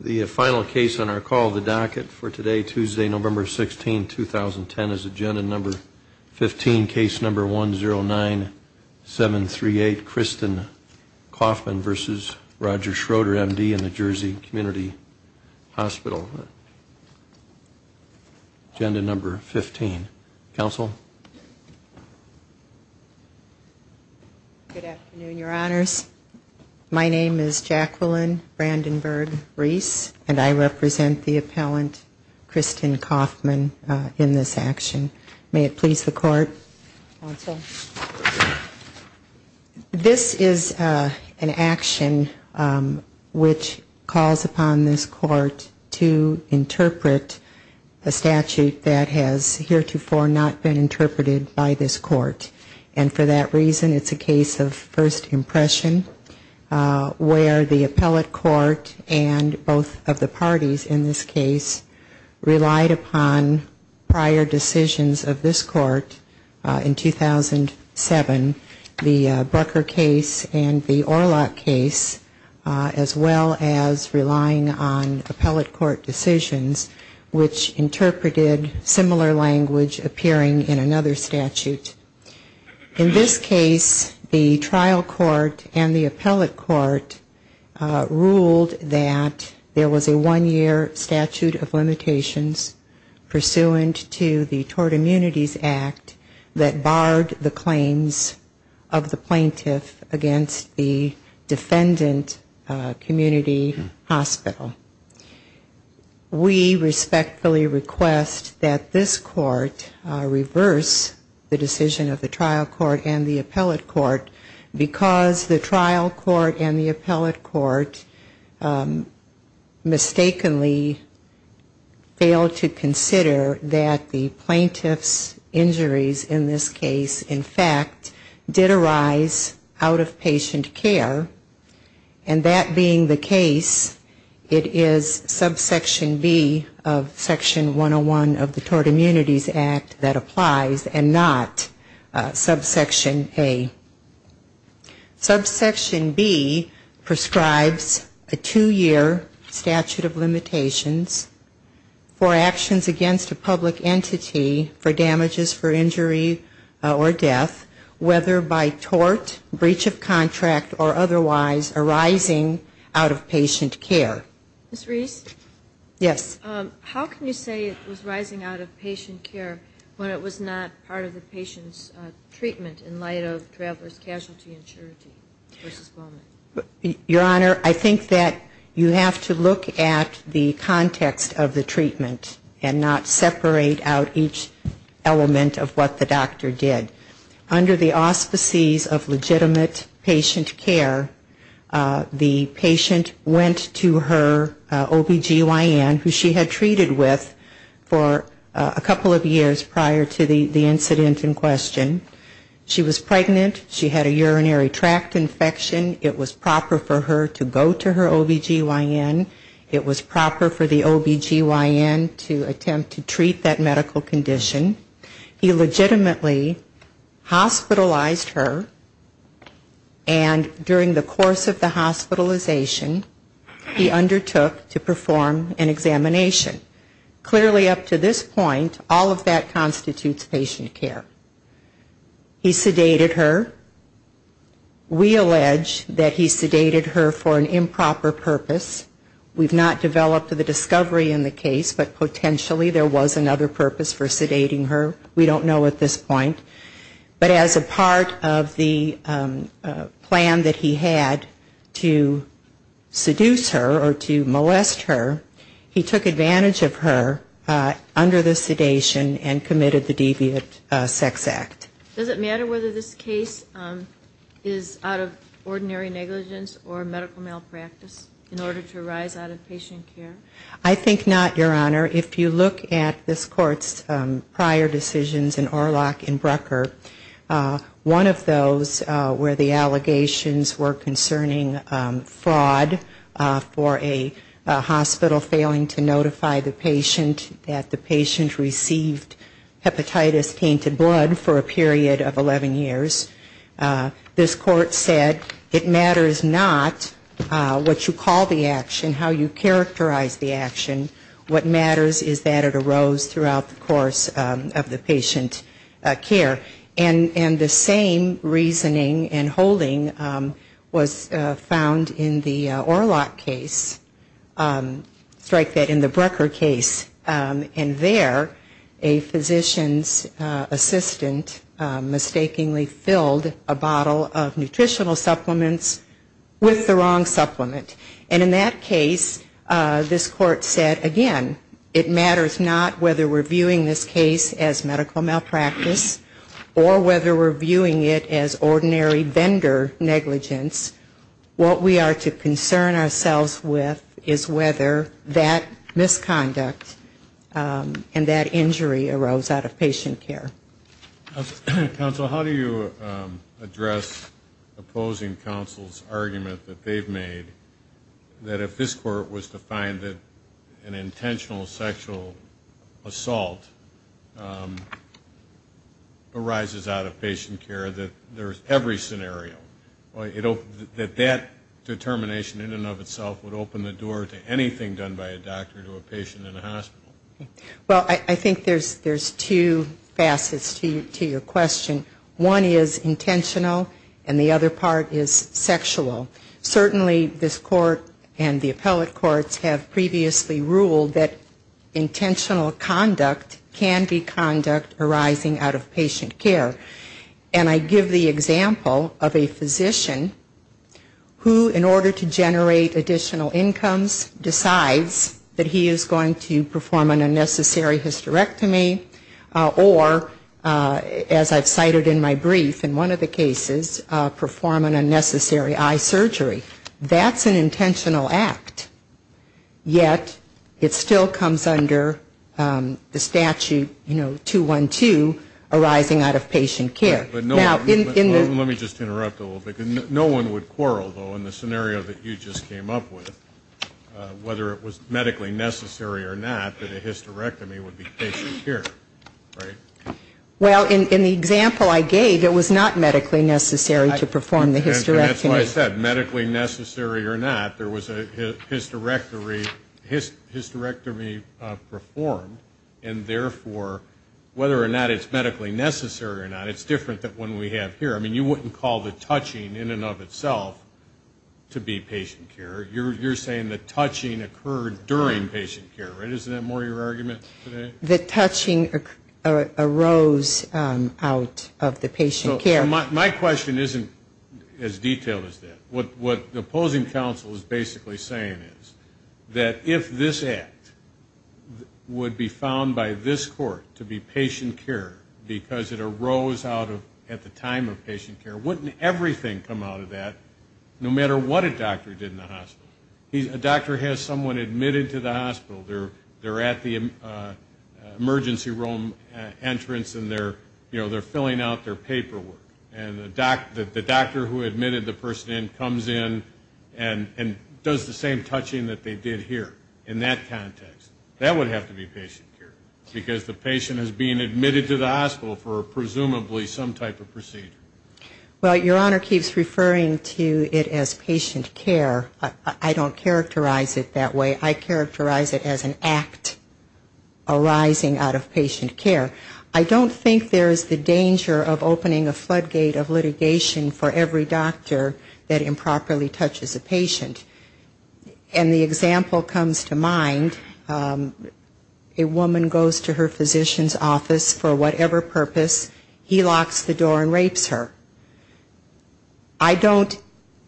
The final case on our call, the docket for today, Tuesday, November 16, 2010, is agenda number 15, case number 109738, Kristen Kaufmann versus Roger Schroeder, M.D. in the Jersey Community Hospital. Agenda number 15. Counsel? Good afternoon, your honors. My name is Jacqueline Brandenburg-Reese, and I represent the appellant Kristen Kaufmann in this action. May it please the court, counsel? This is an action which calls upon this court to interpret a statute that has heretofore not been interpreted by this court. And for that reason, it's a case of first impression where the appellate court and both of the parties in this case relied upon prior decisions of this court in 2007, the Brucker case and the Orlock case, as well as relying on appellate court decisions which interpreted similar language appearing in another statute. In this case, the trial court and the appellate court ruled that there was a one-year statute of limitations pursuant to the Tort Immunities Act that barred the claims of the plaintiff against the defendant community hospital. We respectfully request that this court reverse the decision of the trial court and the appellate court because the trial court and the appellate court mistakenly failed to consider that the plaintiff's injuries in this case, in fact, did arise out of patient care. And that being the case, it is subsection B of section 101 of the Tort Immunities Act that applies and not subsection A. Subsection B prescribes a two-year statute of limitations for actions against a public entity for damages for injury or death, whether by tort, breach of contract, or otherwise, arising out of patient care. Ms. Reese? Yes. How can you say it was rising out of patient care when it was not part of the patient's treatment in light of traveler's casualty and surety v. Bowman? Your Honor, I think that you have to look at the context of the treatment and not separate out each element of what the doctor did. Under the auspices of legitimate patient care, the patient went to her OBGYN, who she had treated with for a couple of years prior to the incident in question. She was pregnant. She had a urinary tract infection. It was proper for her to go to her OBGYN. It was proper for the OBGYN to attempt to treat that medical condition. He legitimately hospitalized her. And during the course of the hospitalization, he undertook to perform an examination. Clearly up to this point, all of that constitutes patient care. He sedated her. We allege that he sedated her for an improper purpose. We've not developed the discovery in the case, but potentially there was another purpose for sedating her. We don't know at this point. But as a part of the plan that he had to seduce her or to molest her, he took advantage of her under the sedation and committed the deviant sex act. Does it matter whether this case is out of ordinary negligence or medical malpractice in order to rise out of patient care? I think not, Your Honor. If you look at this Court's prior decisions in Orlock and Brucker, one of those where the allegations were concerning fraud for a hospital failing to notify the patient that the patient received hepatitis tainted blood for a period of 11 years. This Court said it matters not what you call the action, how you characterize the action. What matters is that it arose throughout the course of the patient care. And the same reasoning and holding was found in the Orlock case. Strike that in the Brucker case. And there a physician's assistant mistakenly filled a bottle of nutritional supplements with the it matters not whether we're viewing this case as medical malpractice or whether we're viewing it as ordinary vendor negligence. What we are to concern ourselves with is whether that misconduct and that injury arose out of patient care. How do you address opposing counsel's argument that they've made that if this Court was to find that an intentional sexual assault arises out of patient care, that there's every scenario, that that determination in and of itself would open the door to anything done by a doctor to a patient in a hospital? Well, I think there's two facets to your question. One is intentional and the other part is sexual. Certainly this Court and the appellate courts have previously ruled that intentional conduct can be conduct arising out of patient care. And I give the example of a physician who in order to generate additional incomes decides that he is going to perform an unnecessary hysterectomy or, as I've cited in my brief in one of the cases, perform an unnecessary eye surgery. That's an intentional act, yet it still comes under the statute, you know, 212, arising out of patient care. Right, but let me just interrupt a little bit. No one would quarrel, though, in the scenario that you just came up with, whether it was medically necessary or not that a hysterectomy would be patient care, right? Well, in the example I gave, it was not medically necessary to perform the hysterectomy. That's what I said, medically necessary or not. There was a hysterectomy performed and therefore whether or not it's medically necessary or not, it's different than what we have here. I mean, you wouldn't call the touching in and of itself to be patient care. You're saying the touching occurred during patient care, right? Isn't that more your argument today? The touching arose out of the patient care. My question isn't as detailed as that. What the opposing counsel is basically saying is that if this act would be found by this court to be patient care because it arose out of at the time of patient care, wouldn't everything come out of that, no matter what a doctor did in the hospital? A doctor has someone admitted to the hospital. They're at the emergency room entrance and they're filling out their paperwork. And the doctor who admitted the person in comes in and does the same touching that they did here in that context. That would have to be patient care because the patient is being admitted to the hospital for presumably some type of procedure. Well, Your Honor keeps referring to it as patient care. I don't characterize it that way. I characterize it as an act arising out of patient care. I don't think there is the danger of opening a floodgate of litigation for every doctor that improperly touches a patient. And the example comes to mind, a woman goes to her physician's office for whatever purpose. He locks the door and rapes her. I don't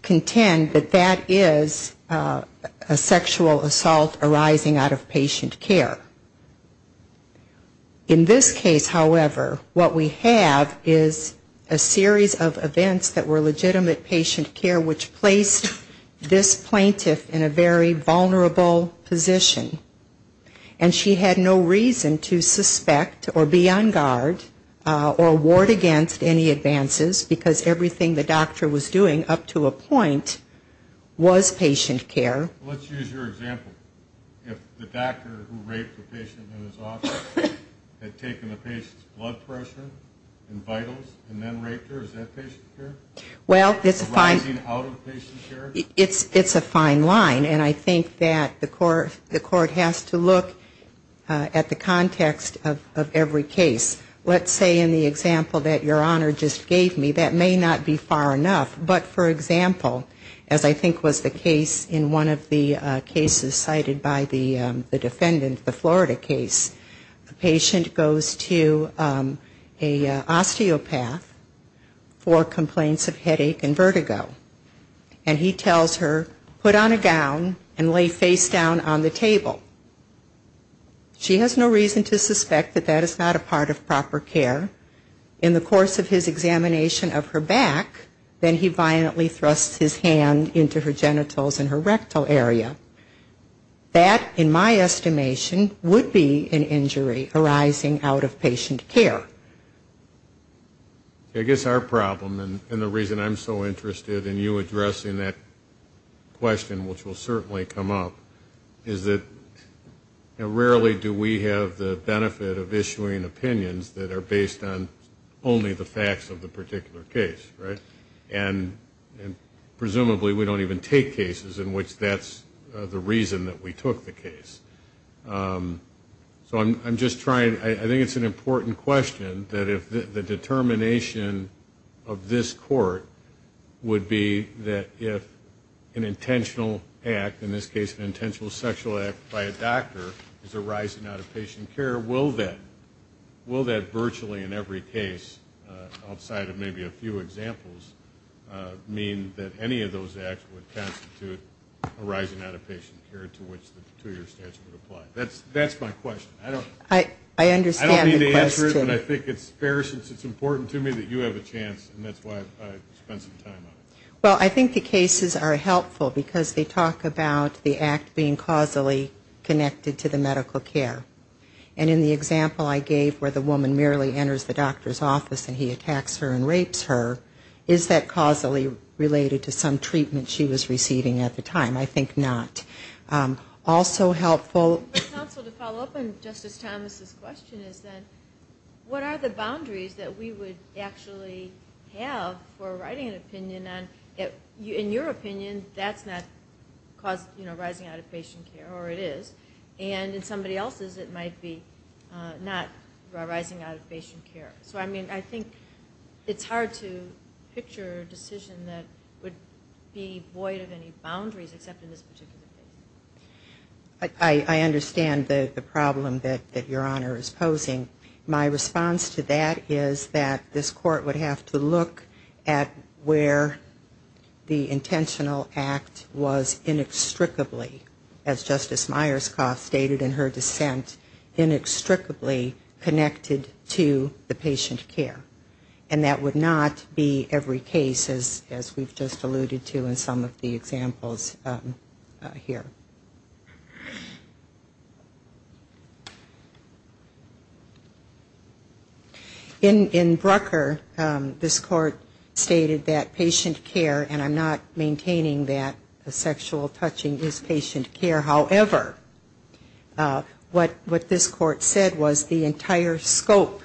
contend that that is a sexual assault arising out of patient care. In this case, however, what we have is a series of events that were legitimate patient care which placed this plaintiff in a very vulnerable position. And she had no reason to suspect or be on guard or ward against any advances because everything the doctor was doing up to a point was patient care. Let's use your example. If the doctor who raped the patient in his office had taken the patient's blood pressure and vitals and then raped her, is that patient care? Well, it's a fine line. And I think that the court has to look at the context of every case. Let's say in the example that Your Honor just gave me, that may not be far enough. But for example, as I think was the case in one of the cases cited by the defendant, the Florida case, the patient goes to an osteopath for complaints of headache and vertigo. And he tells her, put on a gown and lay face down on the table. She has no reason to suspect that that is not a part of proper care. In the course of his examination of her back, then he violently thrusts his hand into her genitals and her rectal area. That, in my estimation, would be an injury arising out of patient care. I guess our problem and the reason I'm so interested in you addressing that question, which will certainly come up, is that rarely do we have the benefit of issuing opinions that are based on only the facts of the particular case, right? And presumably we don't even take cases in which that's the reason that we took the case. So I'm just trying, I think it's an important question that if the determination of this court would be that if an intentional act, in this case an intentional sexual act by a doctor is arising out of patient care, will that virtually in every case, outside of maybe a few examples, mean that any of those acts would constitute arising out of patient care to which the two-year statute would apply? That's my question. I don't mean to answer it, but I think it's fair since it's important to me that you have a chance, and that's why I spent some time on it. Well, I think the cases are helpful because they talk about the act being causally connected to the medical care. And in the example I gave where the woman merely enters the doctor's office and he attacks her and rapes her, is that causally related to some treatment she was receiving at the time? I think not. Also helpful... But also to follow up on Justice Thomas' question is that what are the boundaries that we would actually have for writing an opinion on, in your opinion, that's not causing, you know, and in somebody else's it might be not arising out of patient care. So I mean, I think it's hard to picture a decision that would be void of any boundaries except in this particular case. I understand the problem that Your Honor is posing. My response to that is that this Court would have to look at where the intentional act was inextricably, as Justice Myerscough stated in her dissent, inextricably connected to the patient care. And that would not be every case, as we've just alluded to in some of the examples here. In Brucker, this Court stated that patient care, and I'm not maintaining that sexual touching is patient care. However, what this Court said was the entire scope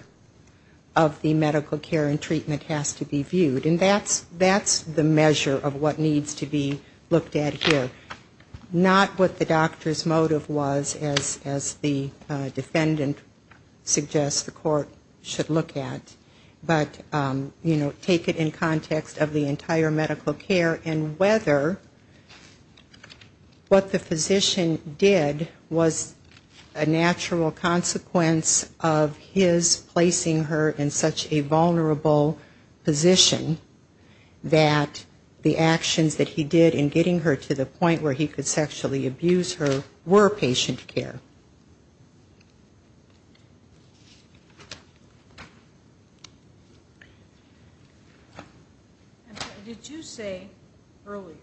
of the medical care and treatment has to be viewed. And that's the measure of what needs to be looked at here. Not what the doctor's motive was, as the defendant suggests the Court should look at. But, you know, take it in context of the entire medical care and whether the patient care was patient care. What the physician did was a natural consequence of his placing her in such a vulnerable position that the actions that he did in getting her to the point where he could sexually abuse her were patient care. And did you say earlier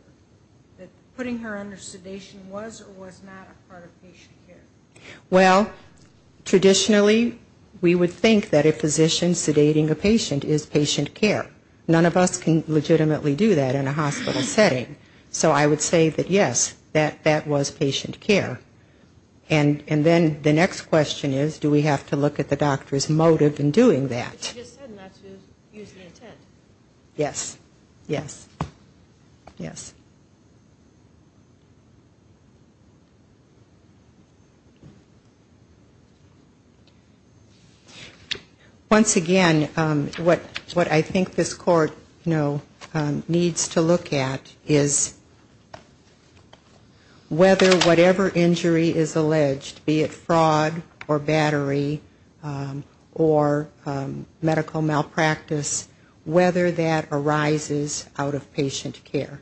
that putting her under sedation was or was not part of patient care? Well, traditionally, we would think that a physician sedating a patient is patient care. None of us can legitimately do that in a hospital setting. So I would say that, yes, that was patient care. And then the next question is, do we have to look at the doctor's motive in doing that? But you just said not to use the intent. Yes. Yes. Yes. Once again, what I think this Court, you know, needs to look at is whether or not the doctor whatever injury is alleged, be it fraud or battery or medical malpractice, whether that arises out of patient care.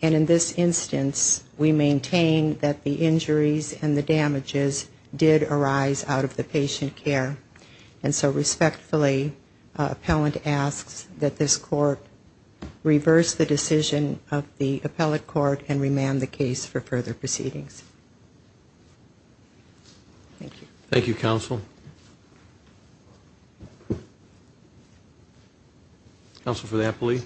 And in this instance, we maintain that the injuries and the damages did arise out of the patient care. And so respectfully, appellant asks that this Court reverse the decision of the appellate court and remand the case for further proceedings. Thank you. Thank you, counsel. Counsel for the appellee.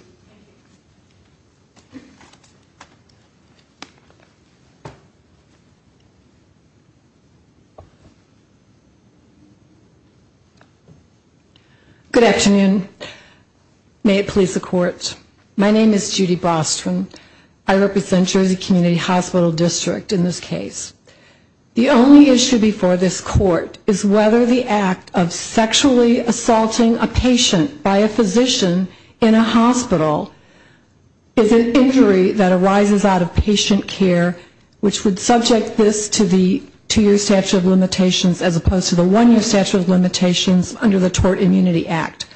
My name is Judy Bostrom. I represent Jersey Community Hospital District in this case. The only issue before this Court is whether the act of sexually assaulting a patient by a physician in a hospital is an injury that arises out of patient care, which would subject this to the two-year statute of limitations as opposed to the one-year statute of limitations under the Tort Immunity Act.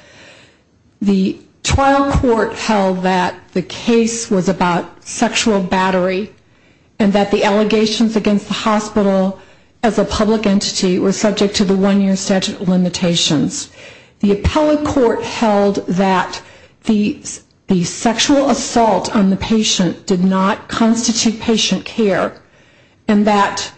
The trial court held that the case was about sexual battery and that the allegations against the hospital as a public entity were subject to the one-year statute of limitations. The appellate court held that the sexual assault on the patient did not constitute patient care and that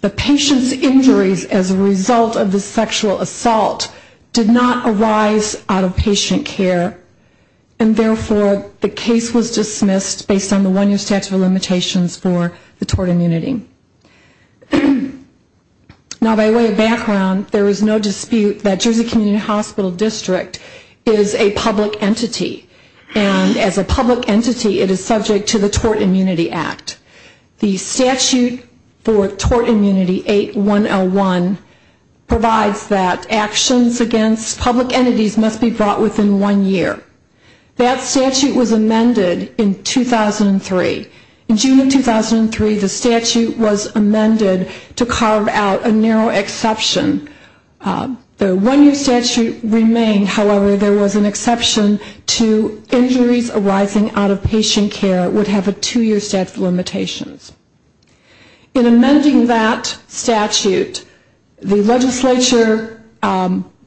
the patient's injuries as a result of the sexual assault did not arise out of patient care, and therefore, the case was dismissed based on the one-year statute of limitations for the tort immunity. Now, by way of background, there is no dispute that Jersey Community Hospital District is a public entity, and as a public entity, it is subject to the Tort Immunity Act. The statute for Tort Immunity 8101 provides that actions against public entities must be brought within one year. That statute was amended in 2003. In June of 2003, the statute was amended to provide an exception to injuries arising out of patient care would have a two-year statute of limitations. In amending that statute, the legislature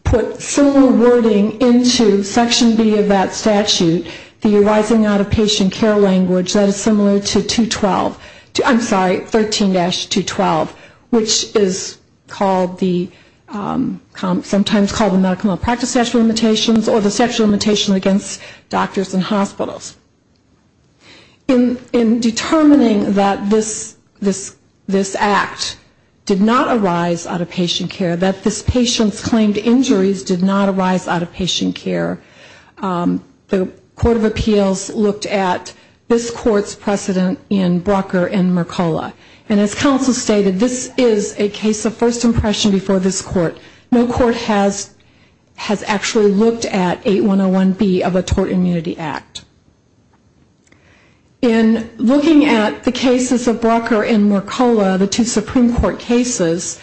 put similar wording into Section B of that statute, the arising out of patient care language that is similar to 212, I'm sorry, 13-212, which is called the, sometimes called the medical malpractice statute of limitations or the statute of limitations against doctors and hospitals. In determining that this act did not arise out of patient care, that this patient's claimed injuries did not arise out of patient care, the Court of Appeals looked at this court's case of first impression in Brucker and Mercola. And as counsel stated, this is a case of first impression before this court. No court has actually looked at 8101B of a Tort Immunity Act. In looking at the cases of Brucker and Mercola, the two Supreme Court cases,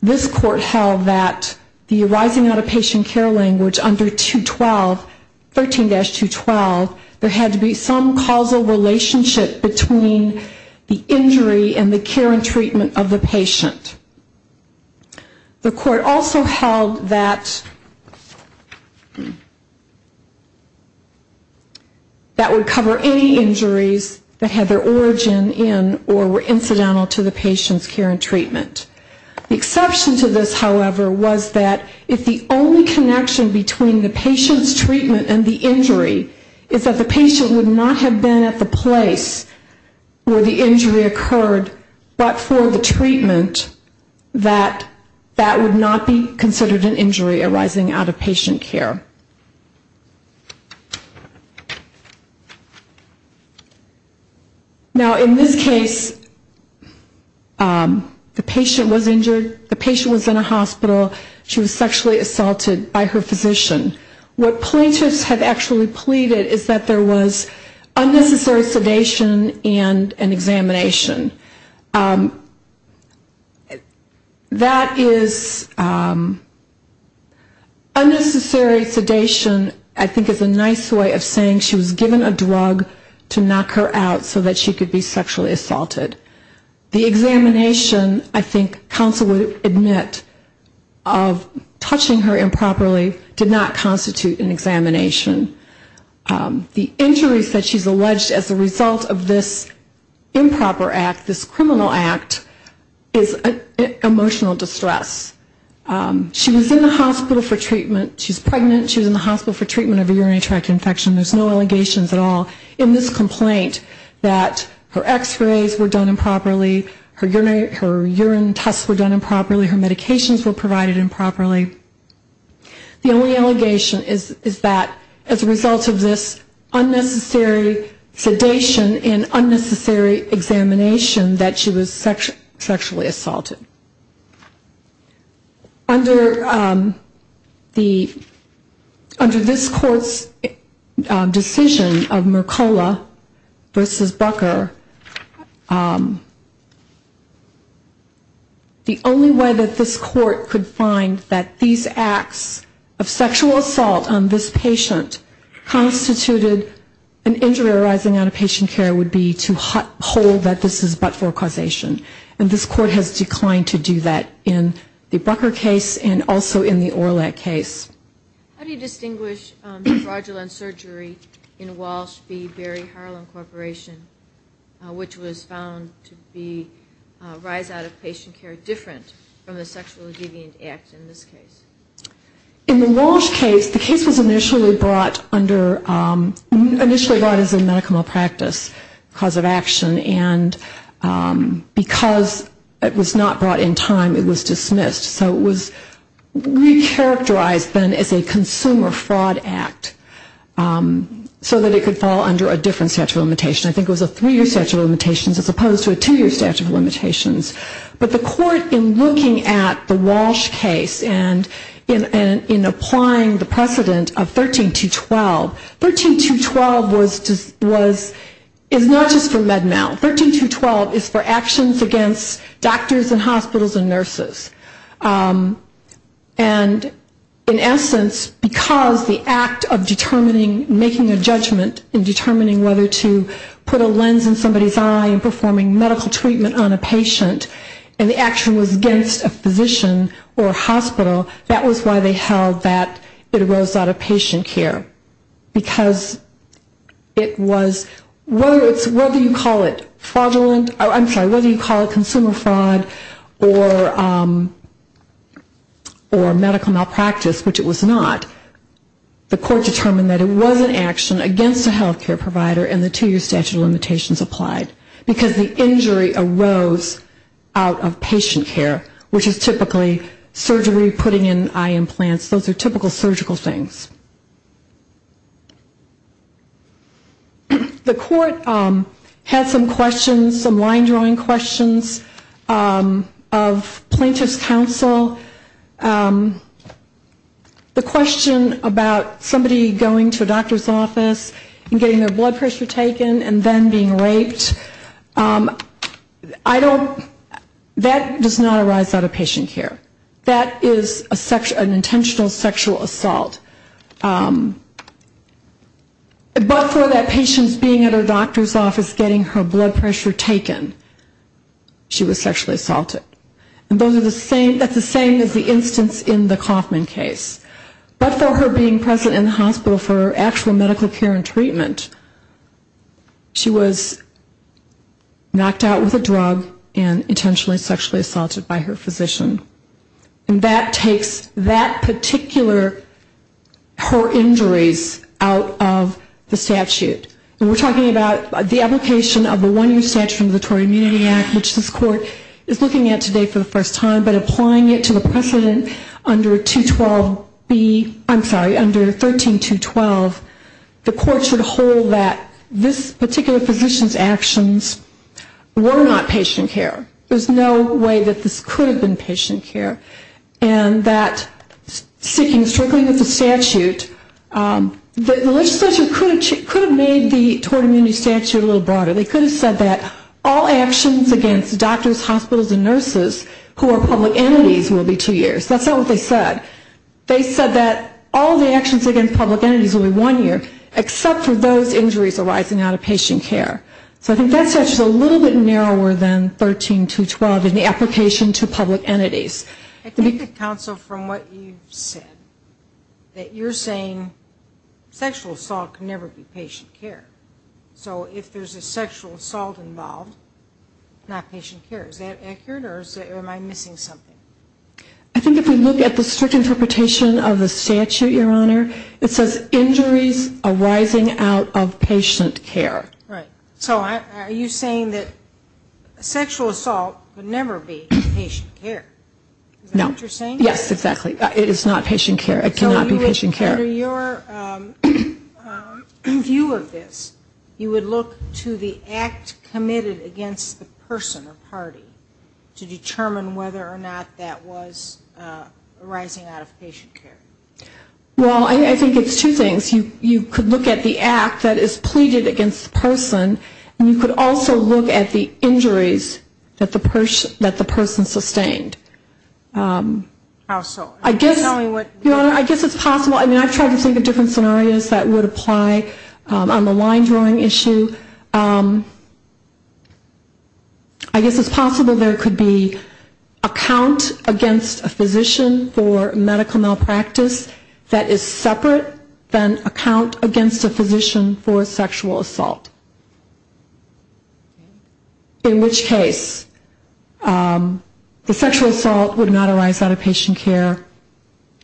this court held that the arising out of patient care language under 212, 13-212, there had to be some causal relationship between the injury and the care and treatment of the patient. The court also held that that would cover any injuries that had their origin in or were incidental to the patient's care and treatment. The exception to this, however, was that if the only connection between the patient's treatment and the injury is that the patient would not have been at the place where the injury occurred, but for the treatment, that that would not be considered an injury arising out of patient care. Now in this case, the patient was injured. The patient was in a hospital. She was sexually assaulted. And what the patients have actually pleaded is that there was unnecessary sedation and examination. That is unnecessary sedation I think is a nice way of saying she was given a drug to knock her out so that she could be sexually assaulted. The examination I think counsel would admit of touching her improperly did not constitute an examination. The injuries that she's alleged as a result of this improper act, this criminal act, is emotional distress. She was in the hospital for treatment. She's pregnant. She's in the hospital for treatment of a urinary tract infection. There's no allegations at all in this complaint that her x-rays were done improperly, her urine tests were done improperly, her medications were provided improperly. The only allegation is that as a result of this unnecessary sedation and unnecessary examination that she was sexually assaulted. Under this court's decision of Mercola v. Bucker, the only way that this court could find that these patients were sexually assaulted, that these acts of sexual assault on this patient constituted an injury arising out of patient care would be to hold that this is but for causation. And this court has declined to do that in the Bucker case and also in the Orlet case. How do you distinguish fraudulent surgery in Walsh v. Berry Harlan Corporation, which was found to be rise out of patient care different from the sexual deviant act in this case? In the Walsh case, the case was initially brought under, initially brought as a medical malpractice cause of action, and because it was not brought in time, it was dismissed. So it was recharacterized then as a consumer fraud act so that it could fall under a different statute of limitations. I think it was a three-year statute of limitations as opposed to a two-year statute of limitations. But the court in looking at the Walsh case and in applying the precedent of 13212, 13212 is not just for med mal, 13212 is for actions against doctors and hospitals and nurses. And in essence, because the act of determining, making a judgment in a patient and the action was against a physician or hospital, that was why they held that it rose out of patient care. Because it was, whether you call it fraudulent, I'm sorry, whether you call it consumer fraud or medical malpractice, which it was not, the court determined that it was an action against a health care provider and the two-year statute of limitations rose out of patient care, which is typically surgery, putting in eye implants, those are typical surgical things. The court had some questions, some line-drawing questions of plaintiff's counsel. The question about somebody going to a doctor's office and getting their blood pressure taken and then being raped, that was a question that the court had raised. I don't, that does not arise out of patient care. That is an intentional sexual assault. But for that patient's being at her doctor's office getting her blood pressure taken, she was sexually assaulted. And that's the same as the instance in the Kauffman case. But for her being present in the hospital for actual medical care and treatment, she was knocked out with a drug and intentionally sexually assaulted by her physician. And that takes that particular, her injuries out of the statute. And we're talking about the application of the one-year statute from the Tory Immunity Act, which this court is looking at today for the first time, but applying it to the precedent under 212B, I'm sorry, under 13212, the court should hold that this particular physician's actions were not patient care. There's no way that this could have been patient care. And that seeking and strickling with the statute, the legislature could have made the tort immunity statute a little broader. They could have said that all actions against doctors, hospitals, and nurses who are public entities will be two years. That's not what they said. They said that all the actions against public entities will be one year, except for the injuries arising out of patient care. So I think that statute is a little bit narrower than 13212 in the application to public entities. I think the counsel, from what you said, that you're saying sexual assault can never be patient care. So if there's a sexual assault involved, not patient care. Is that accurate? Or am I missing something? I think if we look at the strict interpretation of the statute, Your Honor, it says injuries arising out of patient care Right. So are you saying that sexual assault can never be patient care? Is that what you're saying? No. Yes, exactly. It is not patient care. It cannot be patient care. So under your view of this, you would look to the act committed against the person or party to determine whether or not that was arising out of patient care? Well, I think it's two things. You could look at the act that is pleaded against the person, and you could also look at the injuries that the person sustained. How so? Your Honor, I guess it's possible. I mean, I've tried to think of different scenarios that would apply on the line drawing issue. I guess it's possible there could be a count against a physician for medical malpractice. That is separate than a count against a physician for sexual assault. In which case the sexual assault would not arise out of patient care.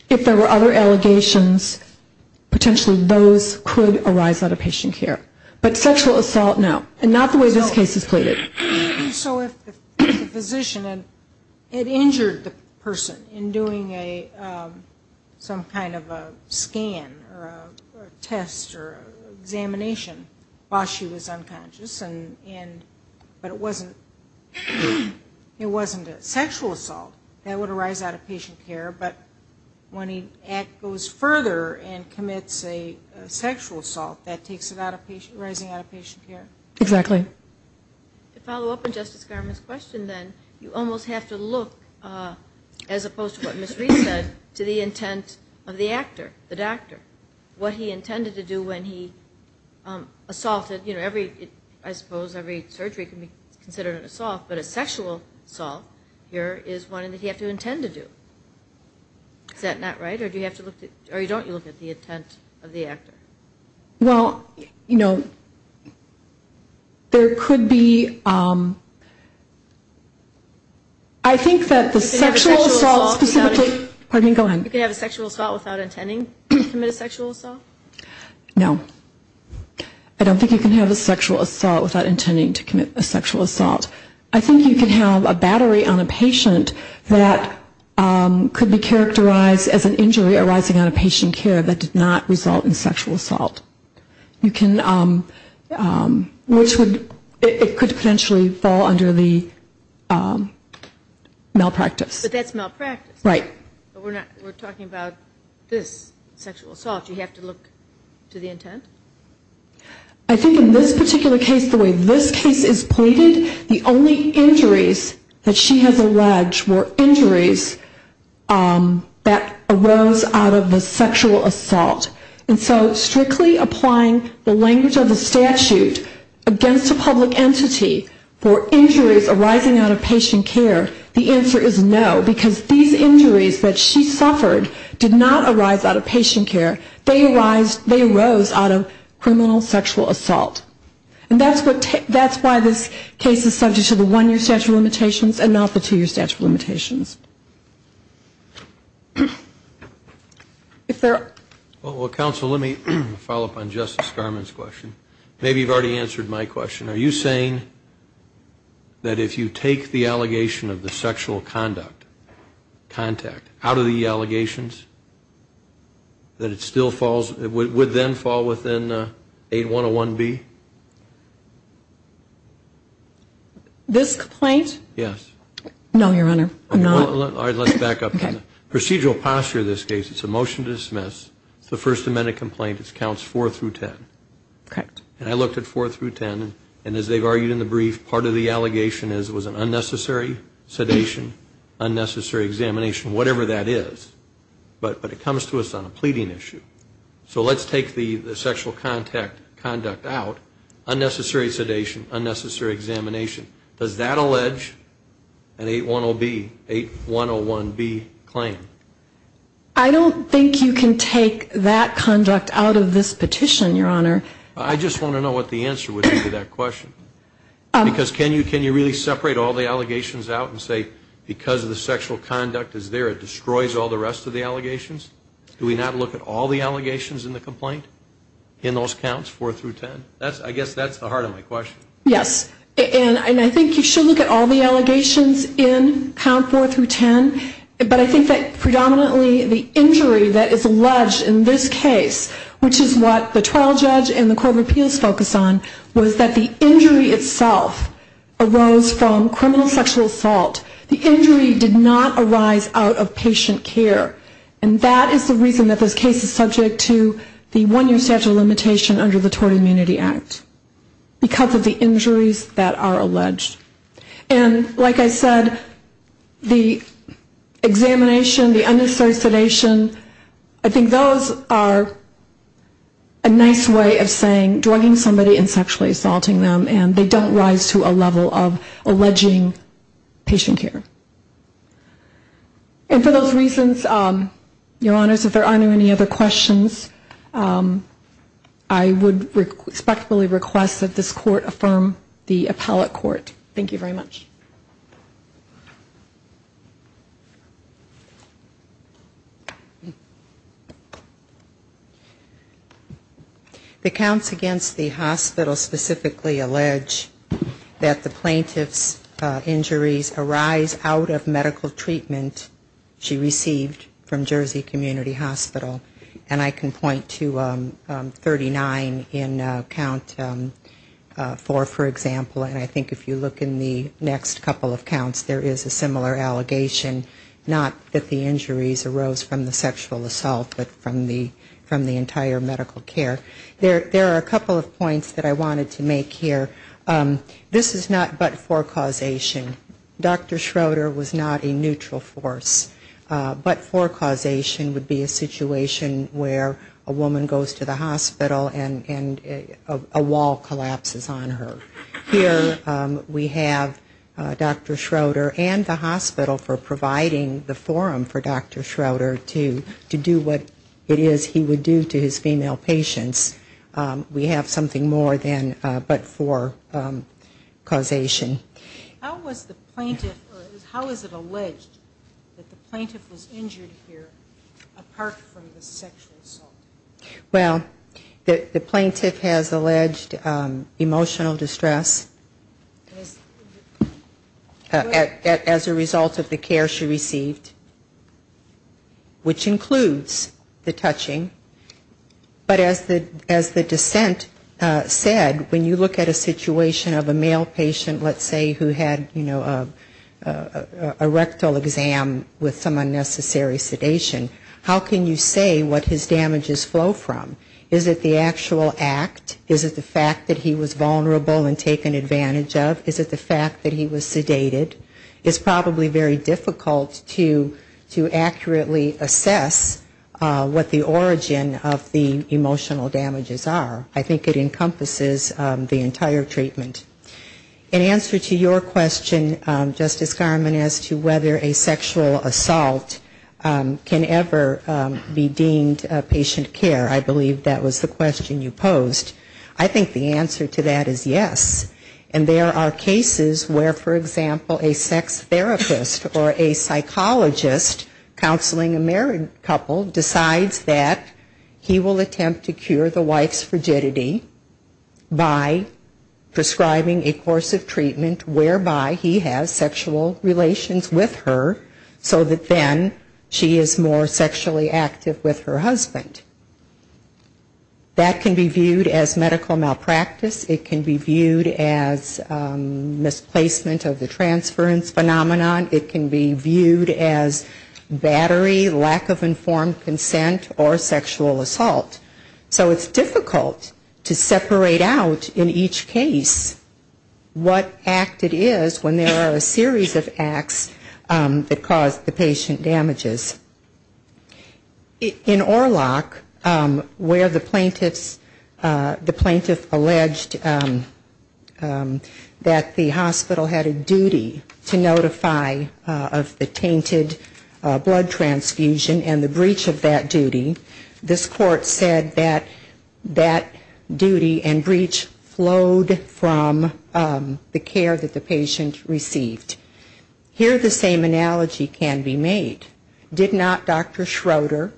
If there were other allegations, potentially those could arise out of patient care. But sexual assault, no. And not the way this case is pleaded. So if the physician had injured the person in doing some kind of a scan or a test or examination while she was unconscious, but it wasn't a sexual assault, that would arise out of patient care. But when he goes further and commits a sexual assault, that takes it out of patient, arising out of patient care? Exactly. To follow up on Justice Garment's question, then, you almost have to look, as opposed to what Ms. Reed said, to the intent of the actor, the doctor, what he intended to do when he assaulted. I suppose every surgery can be considered an assault, but a sexual assault here is one that he had to intend to do. Is that not right? Or don't you look at the intent of the actor? There could be, I think that the sexual assault specifically You can have a sexual assault without intending to commit a sexual assault? No. I don't think you can have a sexual assault without intending to commit a sexual assault. I think you can have a battery on a patient that could be characterized as an injury arising out of patient care that did not result in which it could potentially fall under the malpractice. But that's malpractice. Right. But we're talking about this sexual assault. You have to look to the intent? I think in this particular case, the way this case is pleaded, the only injuries that she has alleged were injuries that arose out of the sexual assault. And so strictly applying the language of the statute against a public entity for injuries arising out of patient care, the answer is no. Because these injuries that she suffered did not arise out of patient care. They arose out of criminal sexual assault. And that's why this case is subject to the one-year statute of limitations and not the two-year statute of limitations. If there are... Well, counsel, let me follow up on Justice Garmon's question. Maybe you've already answered my question. Are you saying that if you take the allegation of the sexual conduct, contact, out of the allegations, that it still falls, would then fall within 8101B? This complaint? Yes. No, Your Honor, I'm not... All right, let's back up. Procedural posture in this case, it's a motion to dismiss. It's a First Amendment complaint. It counts 4 through 10. Correct. And I looked at 4 through 10, and as they've argued in the brief, part of the allegation is it was an unnecessary sedation, unnecessary examination, whatever that is. But it comes to us on a pleading issue. So let's take the sexual contact conduct out, unnecessary sedation, unnecessary examination. Does that allege an 810B, 8101B claim? I don't think you can take that conduct out of this petition, Your Honor. I just want to know what the answer would be to that question. Because can you really separate all the allegations out and say because the sexual conduct is there, it destroys all the rest of the allegations? Do we not look at all the allegations in the complaint in those counts, 4 through 10? I guess that's the heart of my question. Yes, and I think you should look at all the allegations in count 4 through 10, but I think that predominantly the injury that is alleged in this case, which is what the trial judge and the court of appeals focus on, was that the injury itself arose from criminal sexual assault. The injury did not arise out of patient care, and that is the reason that this case is subject to the one-year statute of limitation under the Tort Immunity Act, because of the injuries that are alleged. And like I said, the examination, the unnecessary sedation, I think those are a nice way of saying drugging somebody and sexually assaulting them, and they don't rise to a level of alleging patient care. And for those reasons, Your Honors, if there aren't any other questions, I would respectfully request that this court affirm the appellate court. Thank you very much. The counts against the hospital specifically allege that the plaintiff's injuries arise out of medical treatment she received from Jersey Community Hospital, and I can point to 39 in count 4, for example, and I think if you look in the next couple of counts, there is a similar allegation, not that the injuries arose from the sexual assault, but from the entire medical care. There are a couple of points that I wanted to make here. This is not but-for causation. Dr. Schroeder was not a neutral force. But-for causation would be a situation where a woman goes to the hospital and a wall collapses on her. Here we have Dr. Schroeder and the hospital for providing the forum for Dr. Schroeder to do what it is he would do to his female patients. We have something more than but-for causation. How was the plaintiff or how is it alleged that the plaintiff was injured here apart from the sexual assault? Well, the plaintiff has alleged emotional distress as a result of the care she received, which includes the touching. But as the dissent said, when you look at a situation of a male patient, let's say, who had, you know, a rectal exam with some unnecessary sedation, how can you say what his damages flow from? Is it the actual act? Is it the fact that he was vulnerable and taken advantage of? Is it the fact that he was sedated? It's probably very difficult to accurately assess what the origin of the emotional damages are. I think it encompasses the entire treatment. In answer to your question, Justice Garmon, as to whether a sexual assault can ever be deemed patient care, I believe that was the question you posed. I think the answer to that is yes. And there are cases where, for example, a sex therapist or a psychologist counseling a married couple decides that he will attempt to cure the wife's frigidity by prescribing a course of treatment whereby he has sexual relations with her, so that then she is more sexually active with her husband. That can be viewed as medical malpractice. It can be viewed as misplacement of the transference phenomenon. It can be viewed as battery, lack of informed consent, or sexual assault. So it's difficult to separate out in each case what act it is when there are a series of acts that cause the patient damages. In Orlock, where the plaintiff alleged that the hospital had a duty to notify of the tainted blood transfusion and the breach of that duty, this is a case where the patient had that duty and breach flowed from the care that the patient received. Here the same analogy can be made. Did not Dr. Schroeder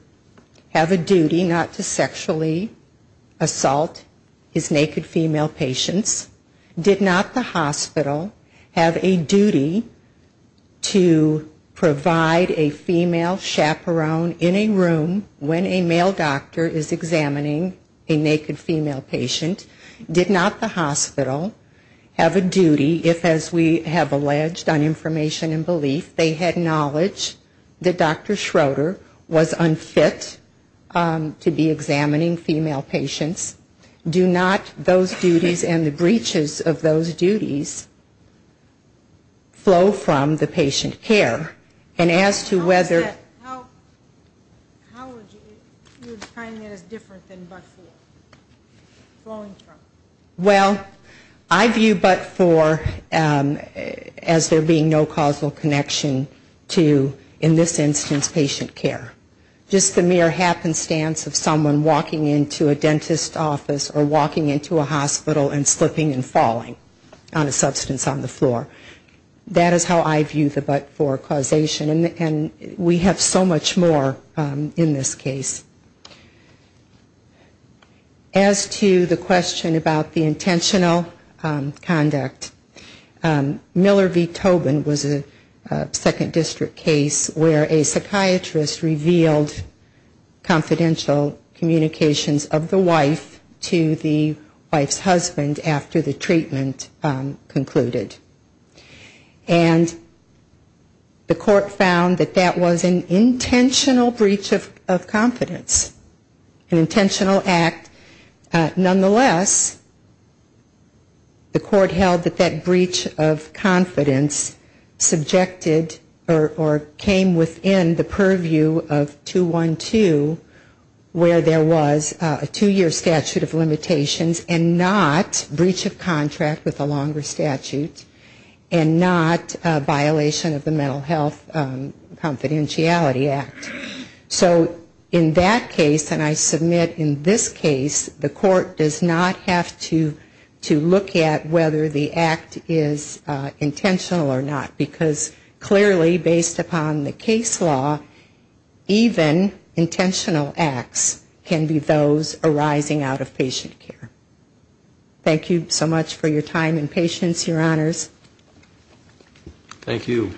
have a duty not to sexually assault his naked female patients? Did not the hospital have a duty to provide a female chaperone in a room when a male doctor is examined? Did not the hospital have a duty if, as we have alleged on information and belief, they had knowledge that Dr. Schroeder was unfit to be examining female patients? Do not those duties and the breaches of those duties flow from the patient care? And as to whether... Well, I view but for as there being no causal connection to, in this instance, patient care. Just the mere happenstance of someone walking into a dentist office or walking into a hospital and slipping and falling on a substance on the floor. That is how I view the but for causation. And we have so much more in this case. As to the question about the intentional conduct, Miller v. Tobin was a second district case where a psychiatrist revealed confidential communications of the wife to the wife's husband after the treatment concluded. And the court found that that was an intentional breach of confidence. An intentional act. Nonetheless, the court held that that breach of confidence subjected or came within the purview of 212 where there was a two-year statute of limitations and not breach of contract with a longer statute and not violation of the Mental Health Confidentiality Act. So in that case, and I submit in this case, the court does not have to look at whether the act is intentional or not. Because clearly based upon the case law, even intentional acts can be those arising out of patient care. Thank you so much for your time and patience, your honors. Thank you.